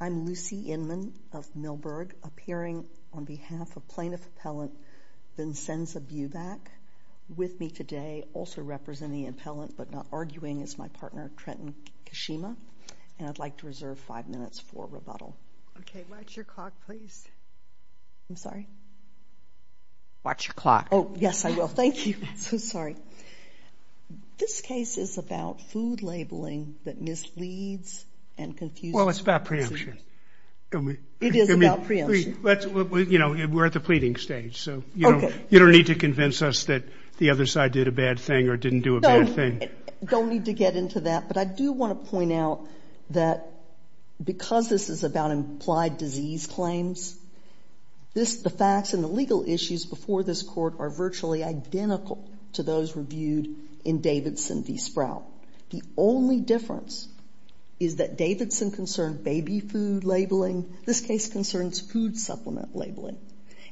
Lucie Inman, Plaintiff Appellant, Vincenza Bubak with me today, also representing the appellant, but not arguing, is my partner, Trenton Kashima. And I'd like to reserve five minutes for rebuttal. Okay. Watch your clock, please. I'm sorry? Watch your clock. Oh, yes, I will. Thank you. I'm so sorry. This case is about food labeling that misleads and confuses. Well, it's about preemption. It is about preemption. You know, we're at the pleading stage. Okay. You don't need to convince us that the other side did a bad thing or didn't do a bad thing. No, I don't need to get into that. But I do want to point out that because this is about implied disease claims, the facts and the legal issues before this Court are virtually identical to those reviewed in Davidson v. Sprout. The only difference is that Davidson concerned baby food labeling. This case concerns food supplement labeling.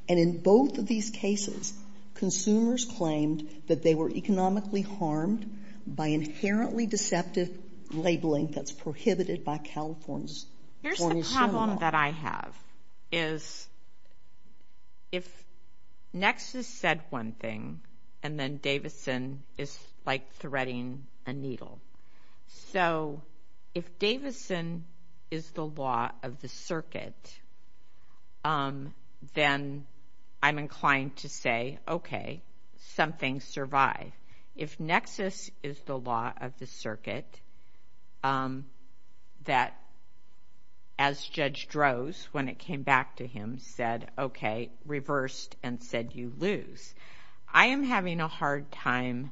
And in both of these cases, consumers claimed that they were economically harmed by inherently deceptive labeling that's prohibited by California's Here's the problem that I have, is if Nexus said one thing and then Davidson is, like, threading a needle. So if Davidson is the law of the circuit, then I'm inclined to say, okay, something survived. If Nexus is the law of the circuit, that as Judge Droz, when it came back to him, said, okay, reversed and said you lose. I am having a hard time.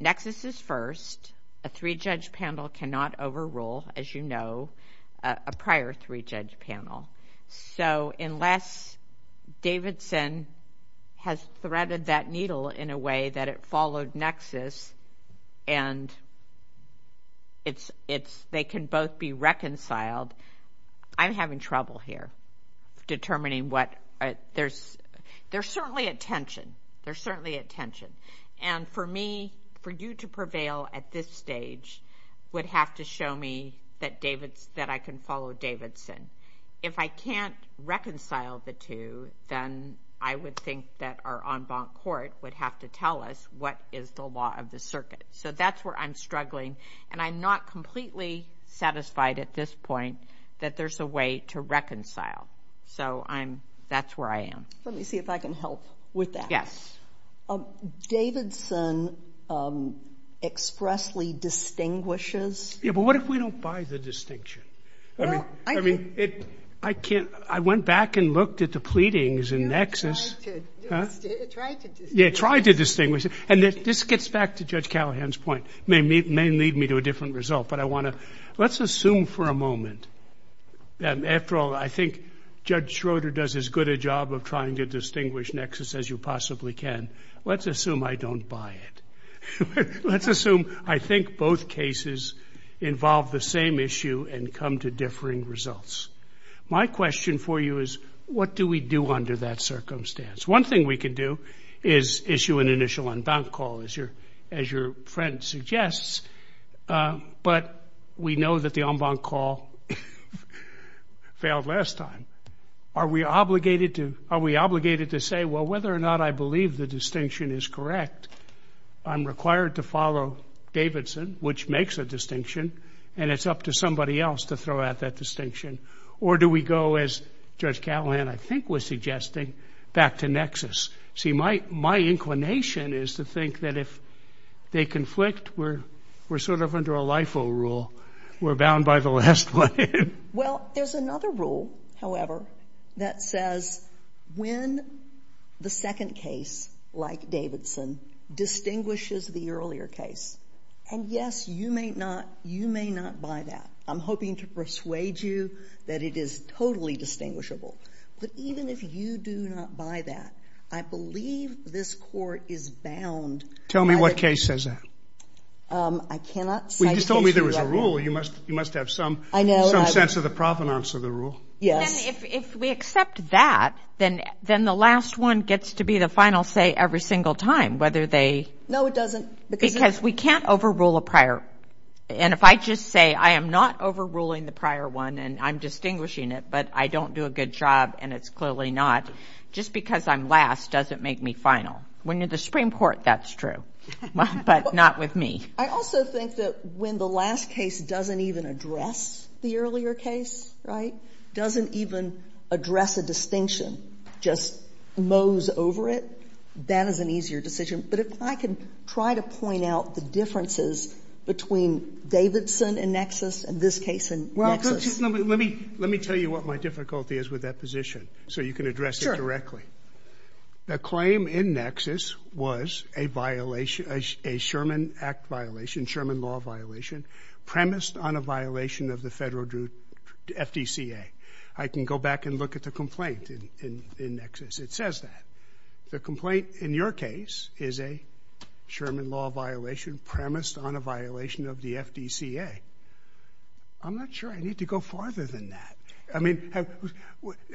Nexus is first. A three-judge panel cannot overrule, as you know, a prior three-judge panel. So unless Davidson has threaded that needle in a way that it followed Nexus and they can both be reconciled, I'm having trouble here determining what, there's certainly a tension. There's certainly a tension. And for me, for you to prevail at this stage would have to show me that I can follow Davidson. If I can't reconcile the two, then I would think that our en banc court would have to tell us what is the law of the circuit. So that's where I'm struggling, and I'm not completely satisfied at this point that there's a way to reconcile. So I'm, that's where I am. Let me see if I can help with that. Davidson expressly distinguishes. Yeah, but what if we don't buy the distinction? I mean, I can't, I went back and looked at the pleadings in Nexus. You tried to distinguish. Yeah, tried to distinguish. And this gets back to Judge Callahan's point. It may lead me to a different result, but I want to, let's assume for a moment. After all, I think Judge Schroeder does as good a job of trying to distinguish Nexus as you possibly can. Let's assume I don't buy it. Let's assume I think both cases involve the same issue and come to differing results. My question for you is, what do we do under that circumstance? One thing we can do is issue an initial en banc call, as your friend suggests. But we know that the en banc call failed last time. Are we obligated to say, well, whether or not I believe the distinction is correct, I'm required to follow Davidson, which makes a distinction, and it's up to somebody else to throw out that distinction. Or do we go, as Judge Callahan I think was suggesting, back to Nexus? See, my inclination is to think that if they conflict, we're sort of under a LIFO rule. We're bound by the last one. Well, there's another rule, however, that says when the second case, like Davidson, distinguishes the earlier case. And, yes, you may not buy that. I'm hoping to persuade you that it is totally distinguishable. But even if you do not buy that, I believe this Court is bound. Tell me what case says that. I cannot cite the issue. You just told me there was a rule. You must have some sense of the provenance of the rule. Yes. And if we accept that, then the last one gets to be the final say every single time, whether they... No, it doesn't. Because we can't overrule a prior. And if I just say I am not overruling the prior one and I'm distinguishing it, but I don't do a good job and it's clearly not, just because I'm last doesn't make me final. When you're the Supreme Court, that's true, but not with me. I also think that when the last case doesn't even address the earlier case, right, doesn't even address a distinction, just mows over it, that is an easier decision. But if I can try to point out the differences between Davidson and Nexus and this case and Nexus... Well, let me tell you what my difficulty is with that position so you can address it directly. The claim in Nexus was a violation, a Sherman Act violation, Sherman law violation, premised on a violation of the Federal Druid FDCA. I can go back and look at the complaint in Nexus. It says that. The complaint in your case is a Sherman law violation premised on a violation of the FDCA. I'm not sure I need to go farther than that. I mean,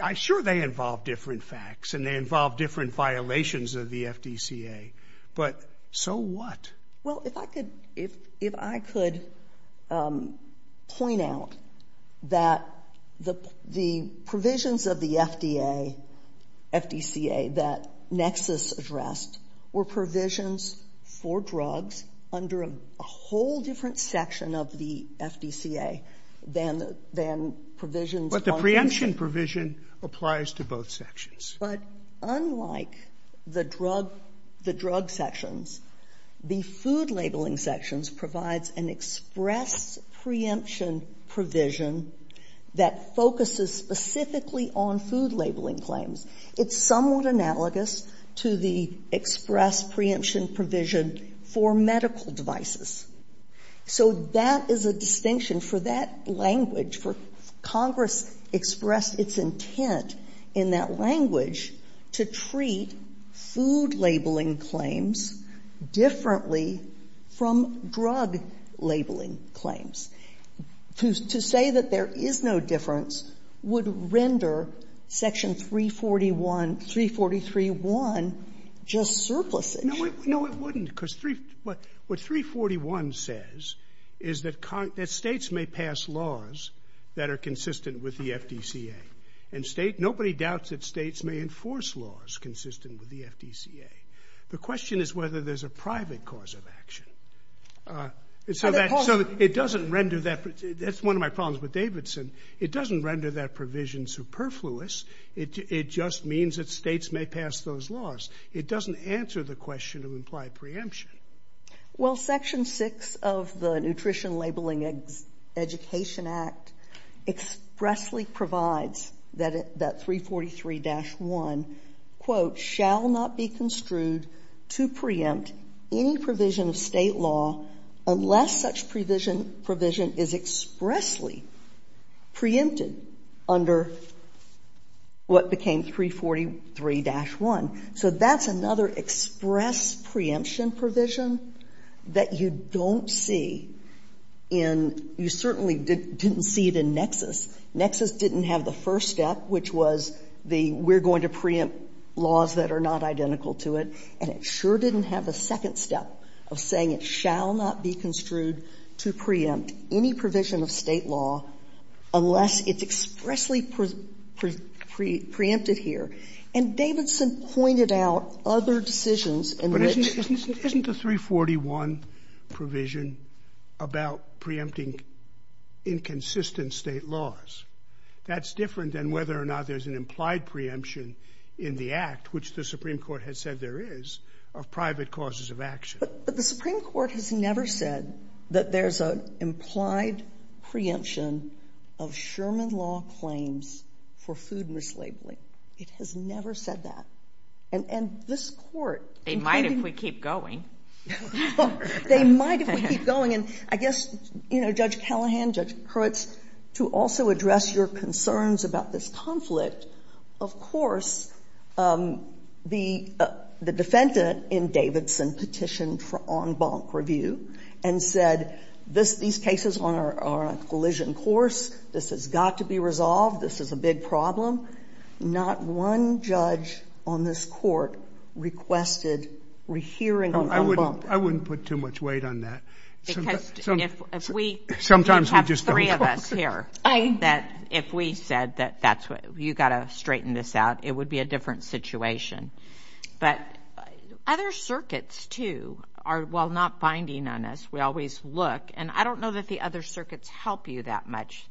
I'm sure they involve different facts and they involve different violations of the FDCA, but so what? Well, if I could point out that the provisions of the FDA, FDCA that Nexus addressed were provisions for drugs under a whole different section of the FDCA than provisions... But the preemption provision applies to both sections. But unlike the drug sections, the food labeling sections provides an express preemption provision that focuses specifically on food labeling claims. It's somewhat analogous to the express preemption provision for medical devices. So that is a distinction for that language, for Congress expressed its intent in that language to treat food labeling claims differently from drug labeling claims. To say that there is no difference would render Section 341, 343.1 just surplusage. No, it wouldn't. Because what 341 says is that states may pass laws that are consistent with the FDCA. And nobody doubts that states may enforce laws consistent with the FDCA. The question is whether there's a private cause of action. So it doesn't render that... That's one of my problems with Davidson. It doesn't render that provision superfluous. It just means that states may pass those laws. It doesn't answer the question of implied preemption. Well, Section 6 of the Nutrition Labeling Education Act expressly provides that 343-1, quote, shall not be construed to preempt any provision of State law unless such provision is expressly preempted under what became 343-1. So that's another express preemption provision that you don't see in — you certainly didn't see it in Nexus. Nexus didn't have the first step, which was the we're going to preempt laws that are not identical to it. And it sure didn't have the second step of saying it shall not be construed to preempt any provision of State law unless it's expressly preempted here. And Davidson pointed out other decisions in which... Scalia, isn't the 341 provision about preempting inconsistent State laws? That's different than whether or not there's an implied preemption in the Act, which the Supreme Court has said there is, of private causes of action. But the Supreme Court has never said that there's an implied preemption of Sherman Law claims for food mislabeling. It has never said that. And this Court... They might if we keep going. They might if we keep going. And I guess, you know, Judge Callahan, Judge Hurwitz, to also address your concerns about this conflict, of course, the defendant in Davidson petitioned for en banc review and said these cases are on a collision course. This has got to be resolved. This is a big problem. Not one judge on this Court requested rehearing of en banc. I wouldn't... I wouldn't put too much weight on that. Because if we... Sometimes we just don't. We have three of us here. I... That if we said that that's what... You've got to straighten this out. It would be a different situation. But other circuits, too, are... While not binding on us, we always look. And I don't know that the other circuits help you that much.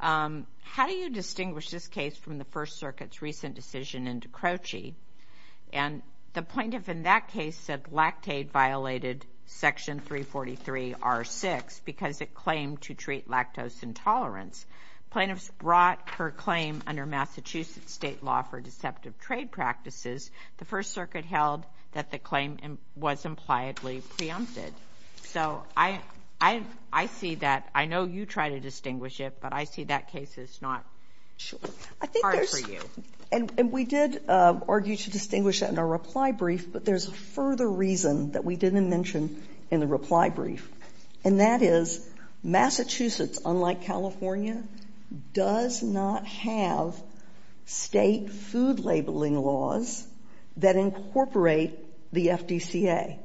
How do you distinguish this case from the First Circuit's recent decision into Croce? And the plaintiff in that case said lactate violated Section 343R6 because it claimed to treat lactose intolerance. Plaintiffs brought her claim under Massachusetts state law for deceptive trade practices. The First Circuit held that the claim was impliedly preempted. So I see that... I know you try to distinguish it, but I see that case is not... Hard for you. I think there's... And we did argue to distinguish that in our reply brief, but there's a further reason that we didn't mention in the reply brief. And that is Massachusetts, unlike California, does not have state food labeling laws that incorporate the FDCA.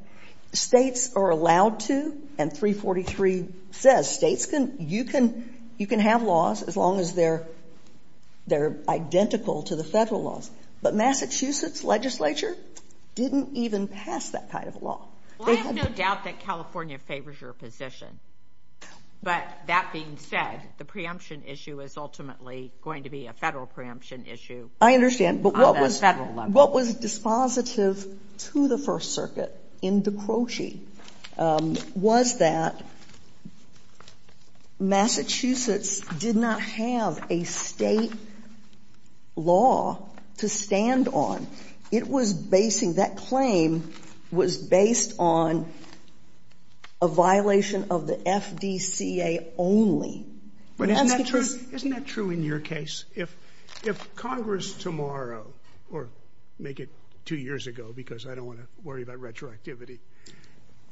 States are allowed to, and 343 says states can... You can have laws as long as they're identical to the federal laws. But Massachusetts legislature didn't even pass that kind of law. Well, I have no doubt that California favors your position. But that being said, the preemption issue is ultimately going to be a federal preemption issue. I understand. On a federal level. What was dispositive to the First Circuit in Dicrocci was that Massachusetts did not have a state law to stand on. It was basing that claim was based on a violation of the FDCA only. Isn't that true in your case? If Congress tomorrow, or make it two years ago, because I don't want to worry about retroactivity,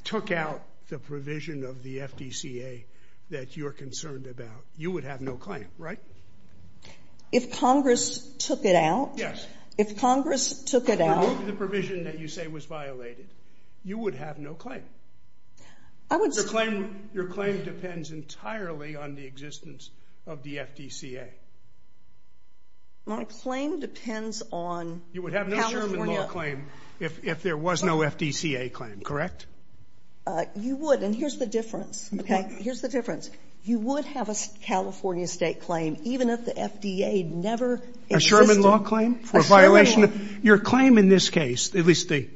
took out the provision of the FDCA that you're concerned about, you would have no claim, right? If Congress took it out... If Congress took it out... I believe the provision that you say was violated. You would have no claim. I would say... Your claim depends entirely on the existence of the FDCA. My claim depends on... You would have no Sherman Law claim if there was no FDCA claim, correct? You would. And here's the difference. Okay. Here's the difference. You would have a California state claim even if the FDA never existed. A Sherman Law claim? A Sherman Law. For a violation... Your claim in this case, at least the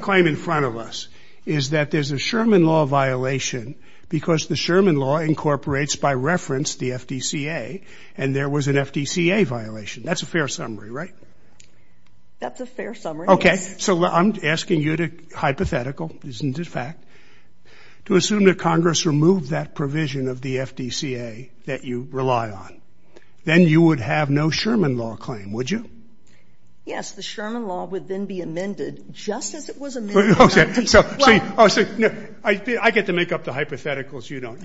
claim in front of us, is that there's a Sherman Law violation because the Sherman Law incorporates by reference the FDCA, and there was an FDCA violation. That's a fair summary, right? That's a fair summary, yes. Okay. So I'm asking you to, hypothetical, this isn't a fact, to assume that Congress removed that provision of the FDCA that you rely on. Then you would have no Sherman Law claim, would you? Yes. The Sherman Law would then be amended just as it was amended... Okay. I get to make up the hypotheticals. You don't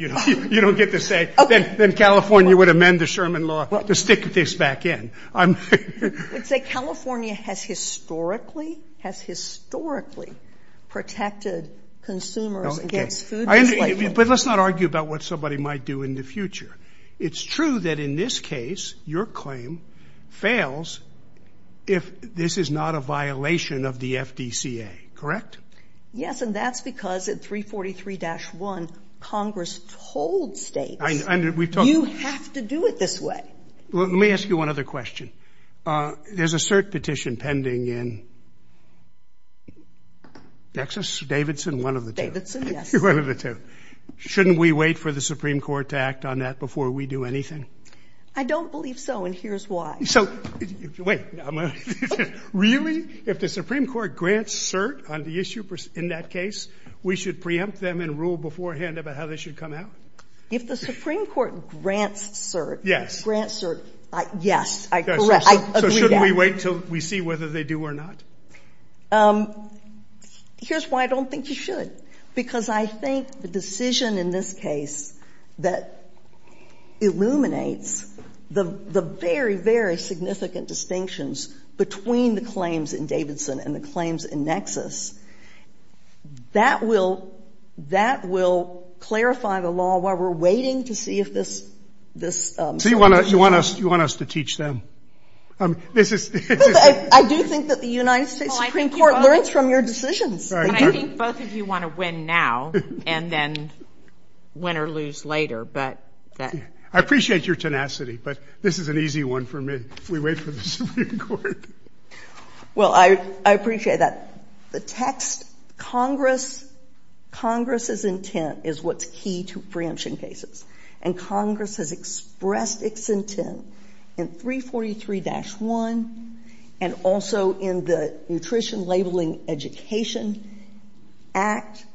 get to say... Then California would amend the Sherman Law to stick this back in. I'm... You would say California has historically, has historically protected consumers against food....... Correct? And that's because in 343-1, Congress told States... And we've talked..... you have to do it this way. Well, let me ask you one other question. There's a cert petition pending in Texas, Davidson, one of the two. Davidson, yes. One of the two. Shouldn't we wait for the Supreme Court to act on that before we do anything? I don't believe so, and here's why. So, wait, no. Really? If the Supreme Court grants cert on the issue in that case, we should preempt them and rule beforehand about how they should come out? If the Supreme Court grants cert... Grants cert, yes, I agree. So shouldn't we wait until we see whether they do or not? Here's why I don't think you should, because I think the decision in this case that illuminates the very, very significant distinctions between the claims in Davidson and the claims in Nexus, that will clarify the law while we're waiting to see if this... So you want us to teach them? I do think that the United States Supreme Court learns from your decisions. But I think both of you want to win now and then win or lose later, but... I appreciate your tenacity, but this is an easy one for me. We wait for the Supreme Court. Well, I appreciate that. The text, Congress's intent is what's key to preemption cases, and Congress has expressed its intent in 343-1 and also in the Nutrition Labeling Education Act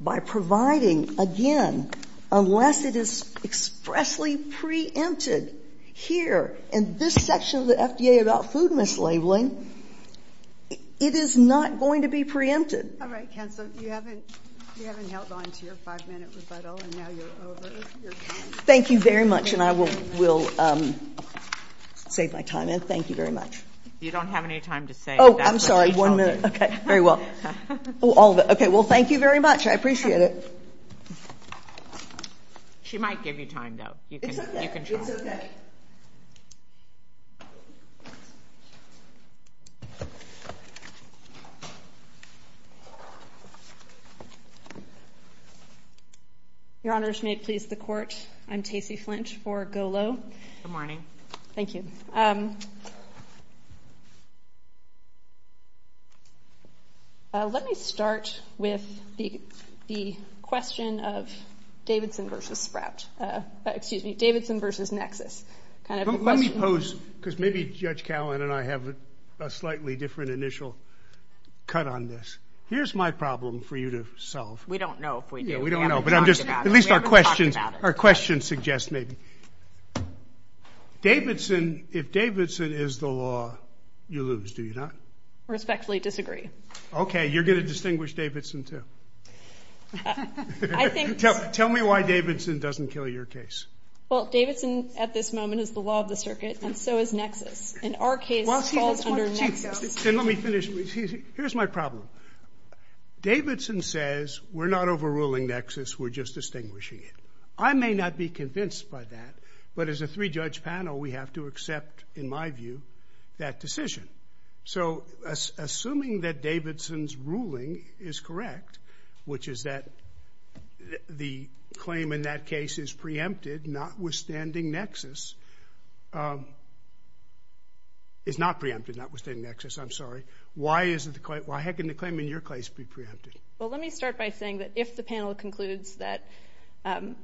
by providing, again, unless it is expressly preempted here in this section of the FDA about food mislabeling, it is not going to be preempted. All right, Counsel. You haven't held on to your five-minute rebuttal, and now you're over. Thank you very much, and I will save my time. And thank you very much. You don't have any time to save. Oh, I'm sorry, one minute. Okay. Very well. Oh, all of it. Okay, well, thank you very much. I appreciate it. She might give you time, though. It's okay. It's okay. Your Honors, may it please the Court, I'm Tacey Flinch for Golo. Good morning. Thank you. Good morning. Let me start with the question of Davidson versus Sprout. Excuse me, Davidson versus Nexus. Let me pose, because maybe Judge Callan and I have a slightly different initial cut on this. Here's my problem for you to solve. We don't know if we do. Yeah, we don't know, but at least our questions suggest maybe. Davidson, if Davidson is the law, you lose, do you not? Respectfully disagree. Okay, you're going to distinguish Davidson, too. Tell me why Davidson doesn't kill your case. Well, Davidson, at this moment, is the law of the circuit, and so is Nexus, and our case falls under Nexus. Let me finish. Here's my problem. Davidson says we're not overruling Nexus, we're just distinguishing it. I may not be convinced by that, but as a three-judge panel, we have to accept, in my view, that decision. So assuming that Davidson's ruling is correct, which is that the claim in that case is preempted, notwithstanding Nexus. It's not preempted, notwithstanding Nexus, I'm sorry. Why can the claim in your case be preempted? Well, let me start by saying that if the panel concludes that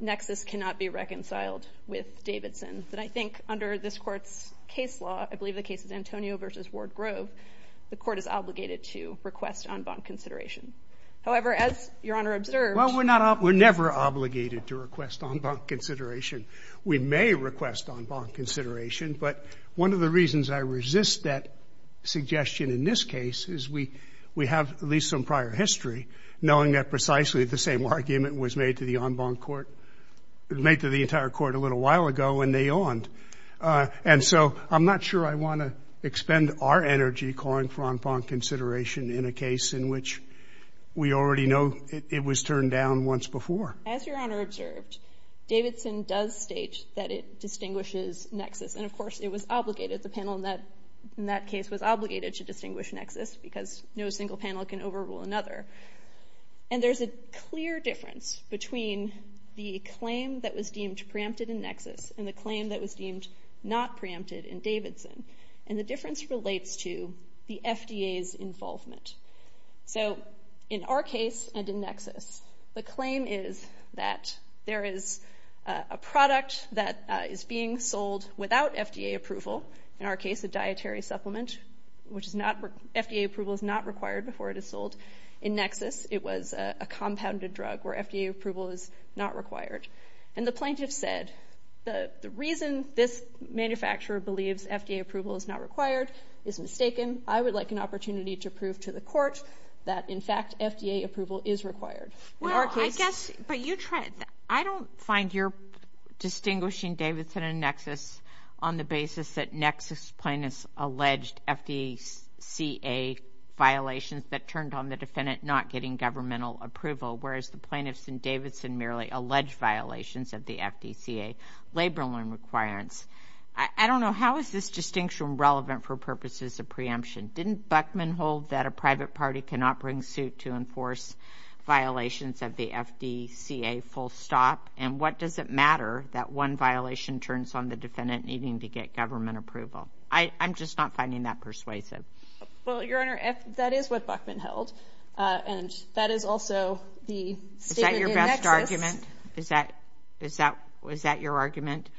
Nexus cannot be reconciled with Davidson, then I think under this Court's case law, I believe the case is Antonio v. Ward-Grove, the Court is obligated to request en banc consideration. However, as Your Honor observed. Well, we're never obligated to request en banc consideration. We may request en banc consideration, but one of the reasons I resist that suggestion in this case is we have at least some prior history knowing that precisely the same argument was made to the en banc Court, made to the entire Court a little while ago when they awned. And so I'm not sure I want to expend our energy calling for en banc consideration in a case in which we already know it was turned down once before. As Your Honor observed, Davidson does state that it distinguishes Nexus. And, of course, it was obligated, the panel in that case was obligated to distinguish Nexus because no single panel can overrule another. And there's a clear difference between the claim that was deemed preempted in Nexus and the claim that was deemed not preempted in Davidson. And the difference relates to the FDA's involvement. So in our case and in Nexus, the claim is that there is a product that is being sold without FDA approval, in our case a dietary supplement, which FDA approval is not required before it is sold. In Nexus, it was a compounded drug where FDA approval is not required. And the plaintiff said, the reason this manufacturer believes FDA approval is not required is mistaken. I would like an opportunity to prove to the Court that, in fact, FDA approval is required. Well, I guess, but you try... I don't find your distinguishing Davidson and Nexus on the basis that Nexus plaintiffs alleged FDCA violations that turned on the defendant not getting governmental approval, whereas the plaintiffs in Davidson merely alleged violations of the FDCA labor loan requirements. I don't know, how is this distinction relevant for purposes of preemption? Didn't Buckman hold that a private party cannot bring suit to enforce violations of the FDCA full stop? And what does it matter that one violation turns on the defendant needing to get government approval? I'm just not finding that persuasive. Well, Your Honor, that is what Buckman held, and that is also the statement in Nexus... Is that your best argument? Is that your argument?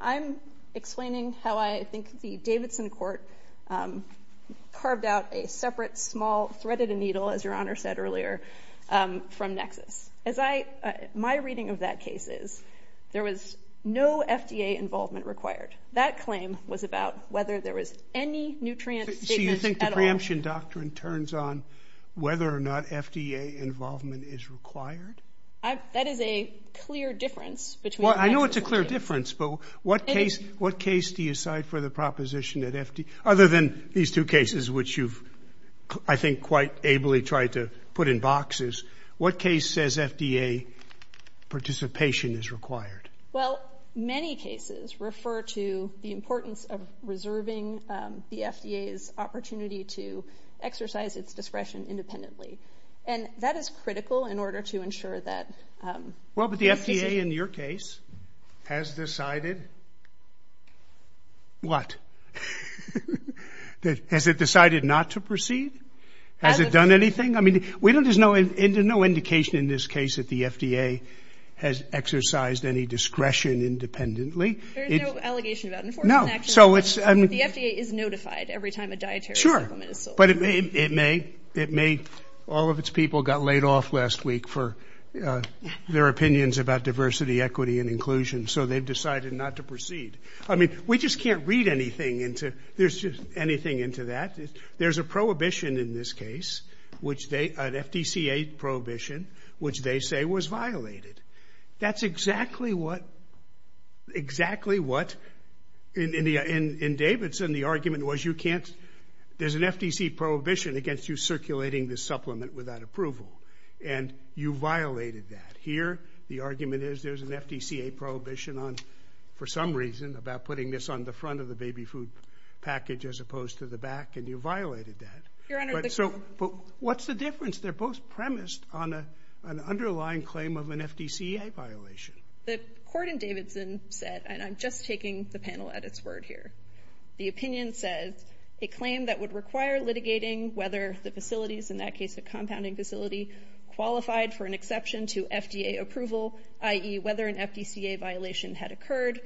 I'm explaining how I think the Davidson court carved out a separate, small, threaded needle, as Your Honor said earlier, from Nexus. My reading of that case is, there was no FDA involvement required. That claim was about whether there was any nutrient... So you think the preemption doctrine turns on whether or not FDA involvement is required? That is a clear difference between... Well, I know it's a clear difference, but what case do you cite for the proposition that FDA... Other than these two cases, which you've, I think, quite ably tried to put in boxes, what case says FDA participation is required? Well, many cases refer to the importance of reserving the FDA's opportunity to exercise its discretion independently. And that is critical in order to ensure that... Well, but the FDA, in your case, has decided... What? Has it decided not to proceed? Has it done anything? I mean, there's no indication in this case that the FDA has exercised any discretion independently. There's no allegation about enforcement action? The FDA is notified every time a dietary supplement is sold. Sure, but it may... All of its people got laid off last week for their opinions about diversity, equity, and inclusion, so they've decided not to proceed. I mean, we just can't read anything into... There's just anything into that. There's a prohibition in this case, an FDCA prohibition, which they say was violated. That's exactly what... Exactly what... In Davidson, the argument was you can't... There's an FDCA prohibition against you circulating this supplement without approval, and you violated that. Here, the argument is there's an FDCA prohibition on... For some reason, about putting this on the front of the baby food package as opposed to the back, and you violated that. Your Honour... But what's the difference? They're both premised on an underlying claim of an FDCA violation. The court in Davidson said, and I'm just taking the panel at its word here, the opinion says a claim that would require litigating whether the facilities, in that case a compounding facility, qualified for an exception to FDA approval, i.e. whether an FDCA violation had occurred,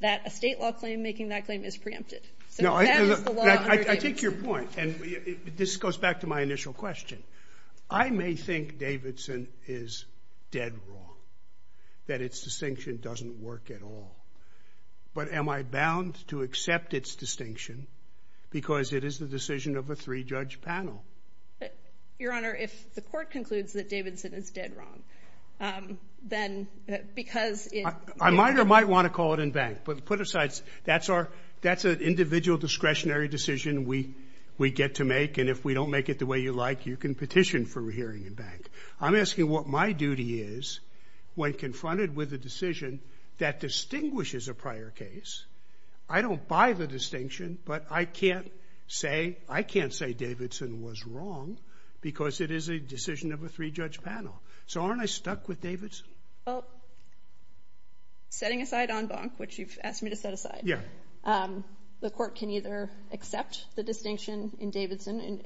that a state law claim making that claim is preempted. So that is the law under Davidson. I take your point, and this goes back to my initial question. I may think Davidson is dead wrong, that its distinction doesn't work at all, but am I bound to accept its distinction because it is the decision of a three-judge panel? Your Honour, if the court concludes that Davidson is dead wrong, then because it... I might or might want to call it in bank, but put aside, that's an individual discretionary decision we get to make, and if we don't make it the way you like, you can petition for a hearing in bank. I'm asking what my duty is when confronted with a decision that distinguishes a prior case. I don't buy the distinction, but I can't say Davidson was wrong because it is a decision of a three-judge panel. So aren't I stuck with Davidson? Well, setting aside en banc, which you've asked me to set aside, the court can either accept the distinction in Davidson,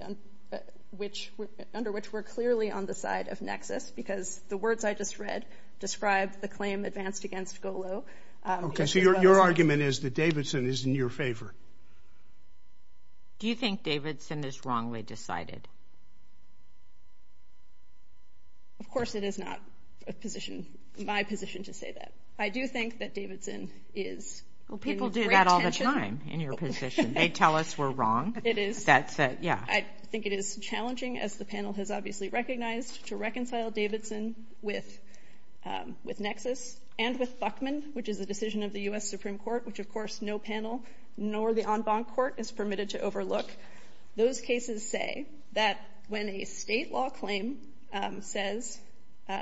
under which we're clearly on the side of nexus because the words I just read describe the claim advanced against Golo. Okay, so your argument is that Davidson is in your favour? Do you think Davidson is wrongly decided? Of course it is not my position to say that. I do think that Davidson is in great tension. Well, people do that all the time in your position. They tell us we're wrong. It is. Yeah. I think it is challenging, as the panel has obviously recognized, to reconcile Davidson with nexus and with Buckman, which is a decision of the U.S. Supreme Court, which, of course, no panel nor the en banc court is permitted to overlook. Those cases say that when a state law claim says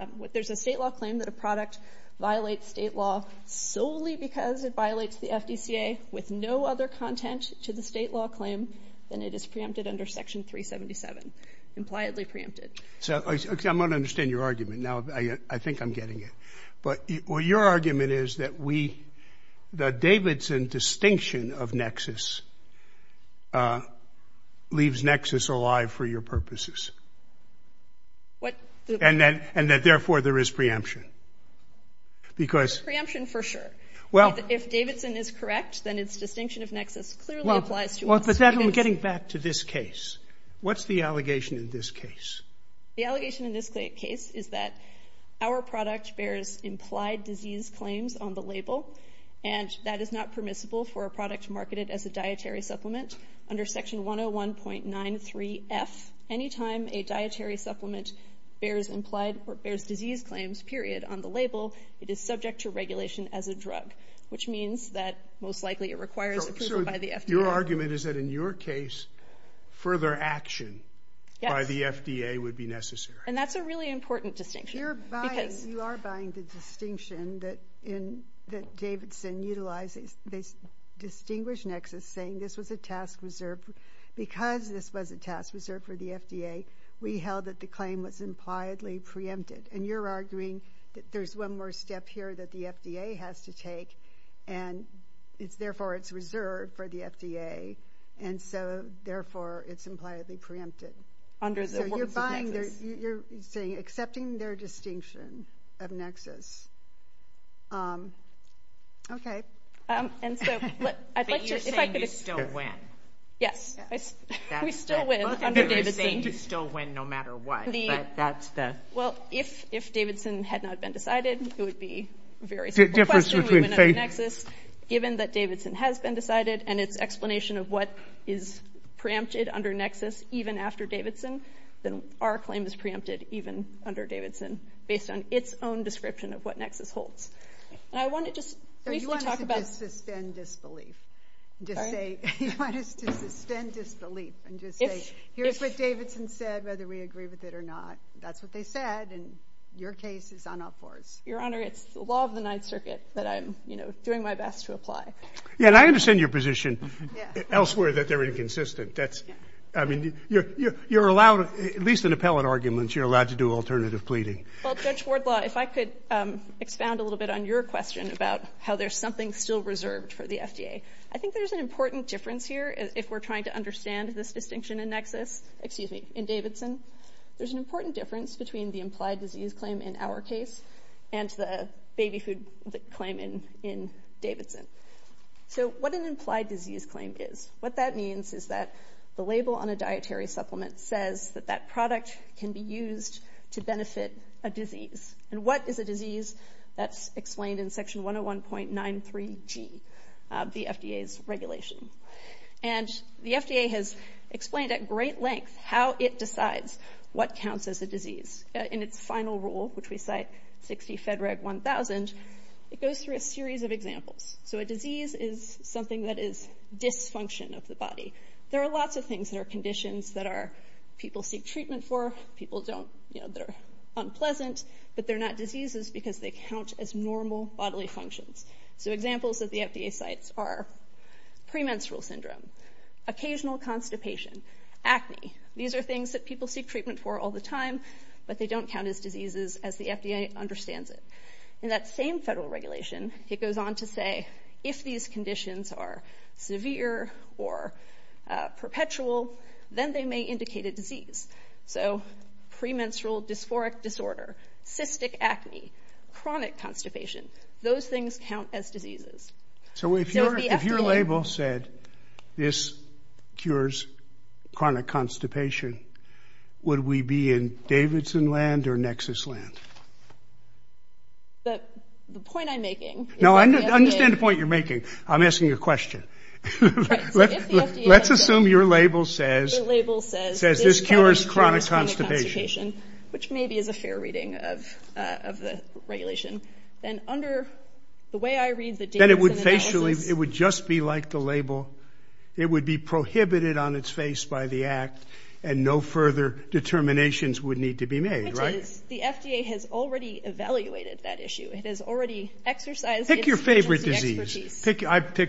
– there's a state law claim that a product violates state law solely because it violates the FDCA with no other content to the state law claim than it is preempted under Section 377, impliedly preempted. Okay, I'm going to understand your argument. Now I think I'm getting it. But your argument is that the Davidson distinction of nexus leaves nexus alive for your purposes. And that, therefore, there is preemption. Preemption, for sure. If Davidson is correct, then its distinction of nexus clearly applies to – But then, getting back to this case, what's the allegation in this case? The allegation in this case is that our product bears implied disease claims on the label, and that is not permissible for a product marketed as a dietary supplement. Under Section 101.93F, any time a dietary supplement bears disease claims, period, on the label, it is subject to regulation as a drug, which means that most likely it requires approval by the FDA. Your argument is that, in your case, further action by the FDA would be necessary. And that's a really important distinction. You are buying the distinction that Davidson utilizes. They distinguish nexus, saying this was a task reserved – because this was a task reserved for the FDA, we held that the claim was impliedly preempted. And you're arguing that there's one more step here that the FDA has to take, and therefore it's reserved for the FDA, and so, therefore, it's impliedly preempted. So you're buying their – you're saying, accepting their distinction of nexus. Okay. But you're saying you still win. Yes. We still win under Davidson. You're saying you still win no matter what. Well, if Davidson had not been decided, it would be a very simple question. Given that Davidson has been decided and its explanation of what is preempted under nexus, even after Davidson, then our claim is preempted even under Davidson based on its own description of what nexus holds. And I want to just briefly talk about – You want us to suspend disbelief. You want us to suspend disbelief and just say, here's what Davidson said, whether we agree with it or not. That's what they said, and your case is on a horse. Your Honor, it's the law of the Ninth Circuit that I'm, you know, doing my best to apply. Yeah, and I understand your position elsewhere that they're inconsistent. That's – I mean, you're allowed – at least in appellate arguments, you're allowed to do alternative pleading. Well, Judge Wardlaw, if I could expound a little bit on your question about how there's something still reserved for the FDA. I think there's an important difference here if we're trying to understand this distinction in nexus – excuse me, in Davidson. There's an important difference between the implied disease claim in our case and the baby food claim in Davidson. So what an implied disease claim is – what that means is that the label on a dietary supplement says that that product can be used to benefit a disease. And what is a disease? That's explained in Section 101.93G, the FDA's regulation. And the FDA has explained at great length how it decides what counts as a disease. In its final rule, which we cite, 60 Fed Reg 1000, it goes through a series of examples. So a disease is something that is dysfunction of the body. There are lots of things that are conditions that are – people seek treatment for, people don't – you know, they're unpleasant, but they're not diseases because they count as normal bodily functions. So examples that the FDA cites are premenstrual syndrome, occasional constipation, acne. These are things that people seek treatment for all the time, but they don't count as diseases as the FDA understands it. In that same federal regulation, it goes on to say if these conditions are severe or perpetual, then they may indicate a disease. So premenstrual dysphoric disorder, cystic acne, chronic constipation, those things count as diseases. So if your – if your label said, this cures chronic constipation, would we be in Davidson land or Nexus land? The point I'm making – No, I understand the point you're making. I'm asking a question. Let's assume your label says – The label says – Says this cures chronic constipation. Which maybe is a fair reading of the regulation. Then under the way I read the – Then it would just be like the label. It would be prohibited on its face by the act and no further determinations would need to be made, right? The FDA has already evaluated that issue. It has already exercised its expertise. Pick your favorite disease.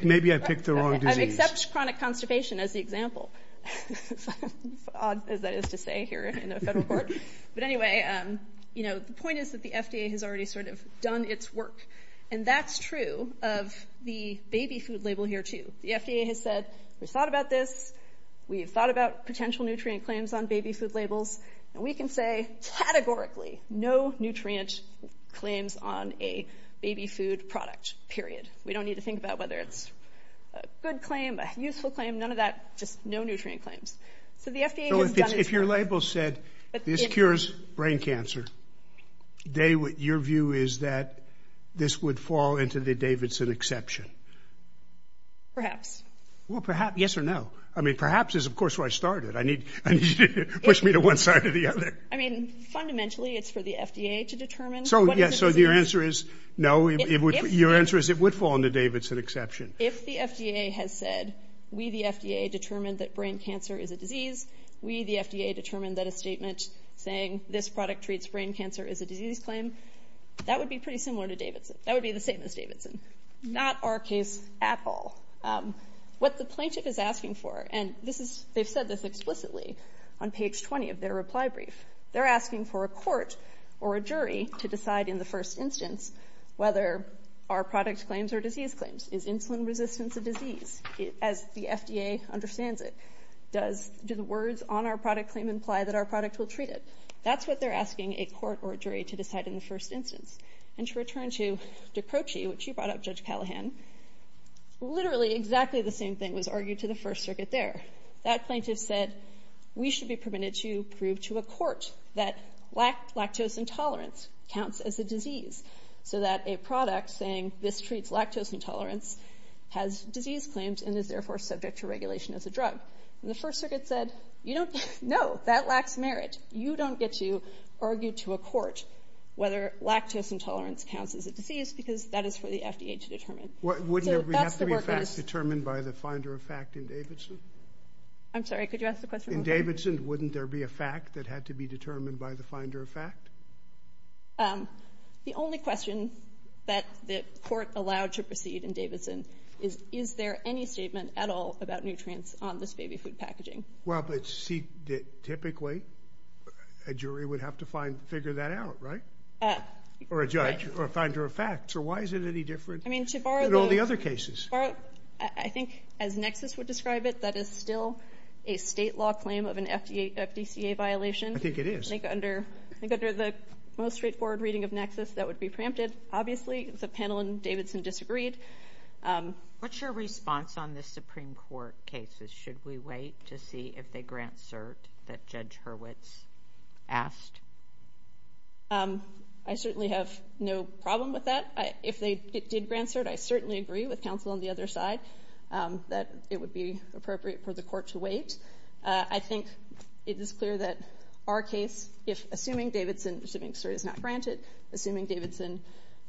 Maybe I picked the wrong disease. I've accepted chronic constipation as the example, as odd as that is to say here in a federal court. But anyway, the point is that the FDA has already sort of done its work. And that's true of the baby food label here too. The FDA has said, we've thought about this. We've thought about potential nutrient claims on baby food labels. And we can say categorically no nutrient claims on a baby food product, period. We don't need to think about whether it's a good claim, a useful claim, none of that, just no nutrient claims. So the FDA has done its work. So if your label said, this cures brain cancer, your view is that this would fall into the Davidson exception? Well, perhaps, yes or no? I mean, perhaps is, of course, where I started. I need you to push me to one side or the other. I mean, fundamentally, it's for the FDA to determine. So your answer is no? Your answer is it would fall in the Davidson exception. If the FDA has said, we, the FDA, determined that brain cancer is a disease, we, the FDA, determined that a statement saying this product treats brain cancer is a disease claim, that would be pretty similar to Davidson. That would be the same as Davidson. Not our case at all. What the plaintiff is asking for, and they've said this explicitly on page 20 of their reply brief, they're asking for a court or a jury to decide in the first instance whether our product claims are disease claims. Is insulin resistance a disease? As the FDA understands it, do the words on our product claim imply that our product will treat it? That's what they're asking a court or a jury to decide in the first instance. And to return to D'Aprocci, which you brought up, Judge Callahan, literally exactly the same thing was argued to the First Circuit there. That plaintiff said, we should be permitted to prove to a court that lactose intolerance counts as a disease so that a product saying this treats lactose intolerance has disease claims and is therefore subject to regulation as a drug. And the First Circuit said, no, that lacks merit. You don't get to argue to a court whether lactose intolerance counts as a disease because that is for the FDA to determine. Wouldn't there have to be a fact determined by the finder of fact in Davidson? I'm sorry, could you ask the question again? In Davidson, wouldn't there be a fact that had to be determined by the finder of fact? The only question that the court allowed to proceed in Davidson is, is there any statement at all about nutrients on this baby food packaging? Well, but see, typically, a jury would have to figure that out, right? Or a judge, or a finder of fact. So why is it any different than all the other cases? I think, as Nexus would describe it, that is still a state law claim of an FDCA violation. I think it is. I think under the most straightforward reading of Nexus, that would be preempted, obviously. The panel in Davidson disagreed. What's your response on the Supreme Court cases? Should we wait to see if they grant cert that Judge Hurwitz asked? I certainly have no problem with that. If they did grant cert, I certainly agree with counsel on the other side that it would be appropriate for the court to wait. I think it is clear that our case, assuming Davidson, assuming cert is not granted, assuming Davidson,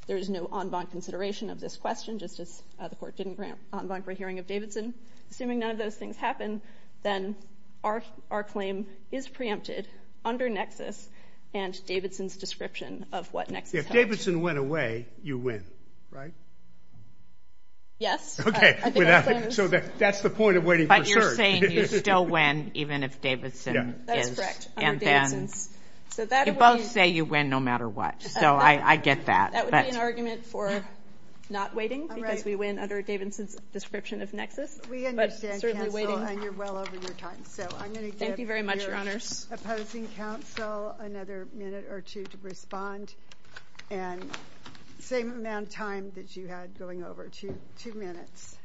there is no en banc consideration of this question, just as the court didn't grant en banc for a hearing of Davidson. Assuming none of those things happen, then our claim is preempted under Nexus and Davidson's description of what Nexus held. If Davidson went away, you win, right? Yes. Okay, so that's the point of waiting for cert. But you're saying you still win even if Davidson is. That is correct, under Davidson's. You both say you win no matter what, so I get that. That would be an argument for not waiting because we win under Davidson's description of Nexus. We understand, counsel, and you're well over your time. Thank you very much, Your Honors. I'm going to give your opposing counsel another minute or two to respond and same amount of time that you had going over, two minutes.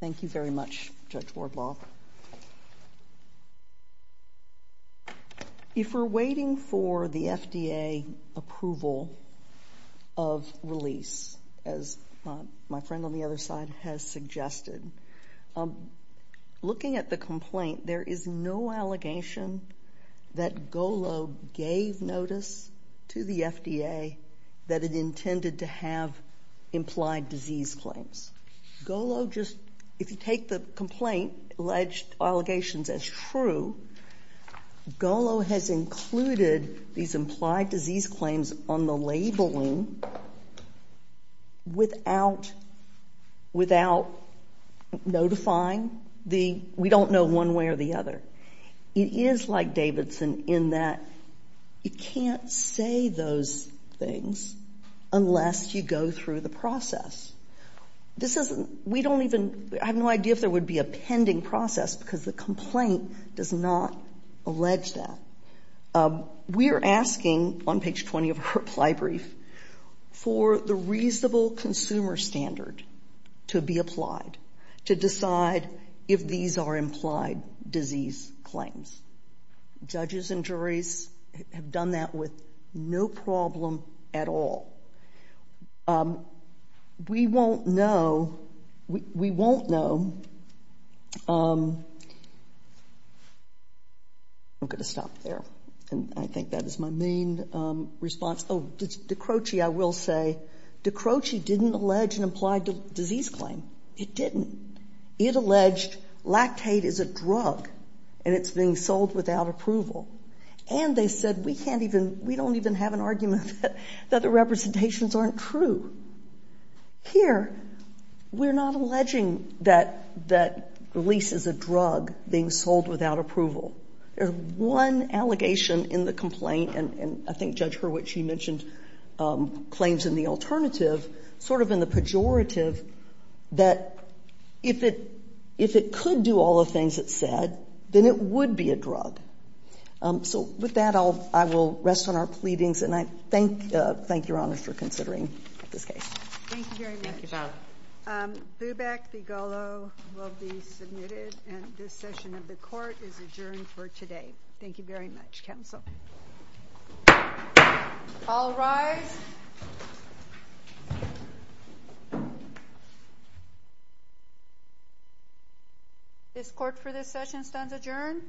Thank you very much, Judge Wardlaw. If we're waiting for the FDA approval of release, as my friend on the other side has suggested, looking at the complaint, there is no allegation that GOLO gave notice to the FDA that it intended to have implied disease claims. GOLO just, if you take the complaint, alleged allegations as true, GOLO has included these implied disease claims on the labeling without notifying the, we don't know one way or the other. It is like Davidson in that you can't say those things unless you go through the process. This isn't, we don't even, I have no idea if there would be a pending process because the complaint does not allege that. We are asking, on page 20 of our reply brief, for the reasonable consumer standard to be applied to decide if these are implied disease claims. Judges and juries have done that with no problem at all. We won't know, we won't know, I'm going to stop there. I think that is my main response. Oh, Decroce, I will say, Decroce didn't allege an implied disease claim. It didn't. It alleged lactate is a drug and it's being sold without approval. And they said we can't even, we don't even have an argument that the representations aren't true. Here, we're not alleging that the lease is a drug being sold without approval. There's one allegation in the complaint, and I think Judge Hurwitz, she mentioned claims in the alternative, sort of in the pejorative, that if it could do all the things it said, then it would be a drug. So with that, I will rest on our pleadings, and I thank your honors for considering this case. Thank you very much. Thank you, Pat. Bubeck v. Golo will be submitted, and this session of the court is adjourned for today. Thank you very much, counsel. All rise. This court for this session stands adjourned.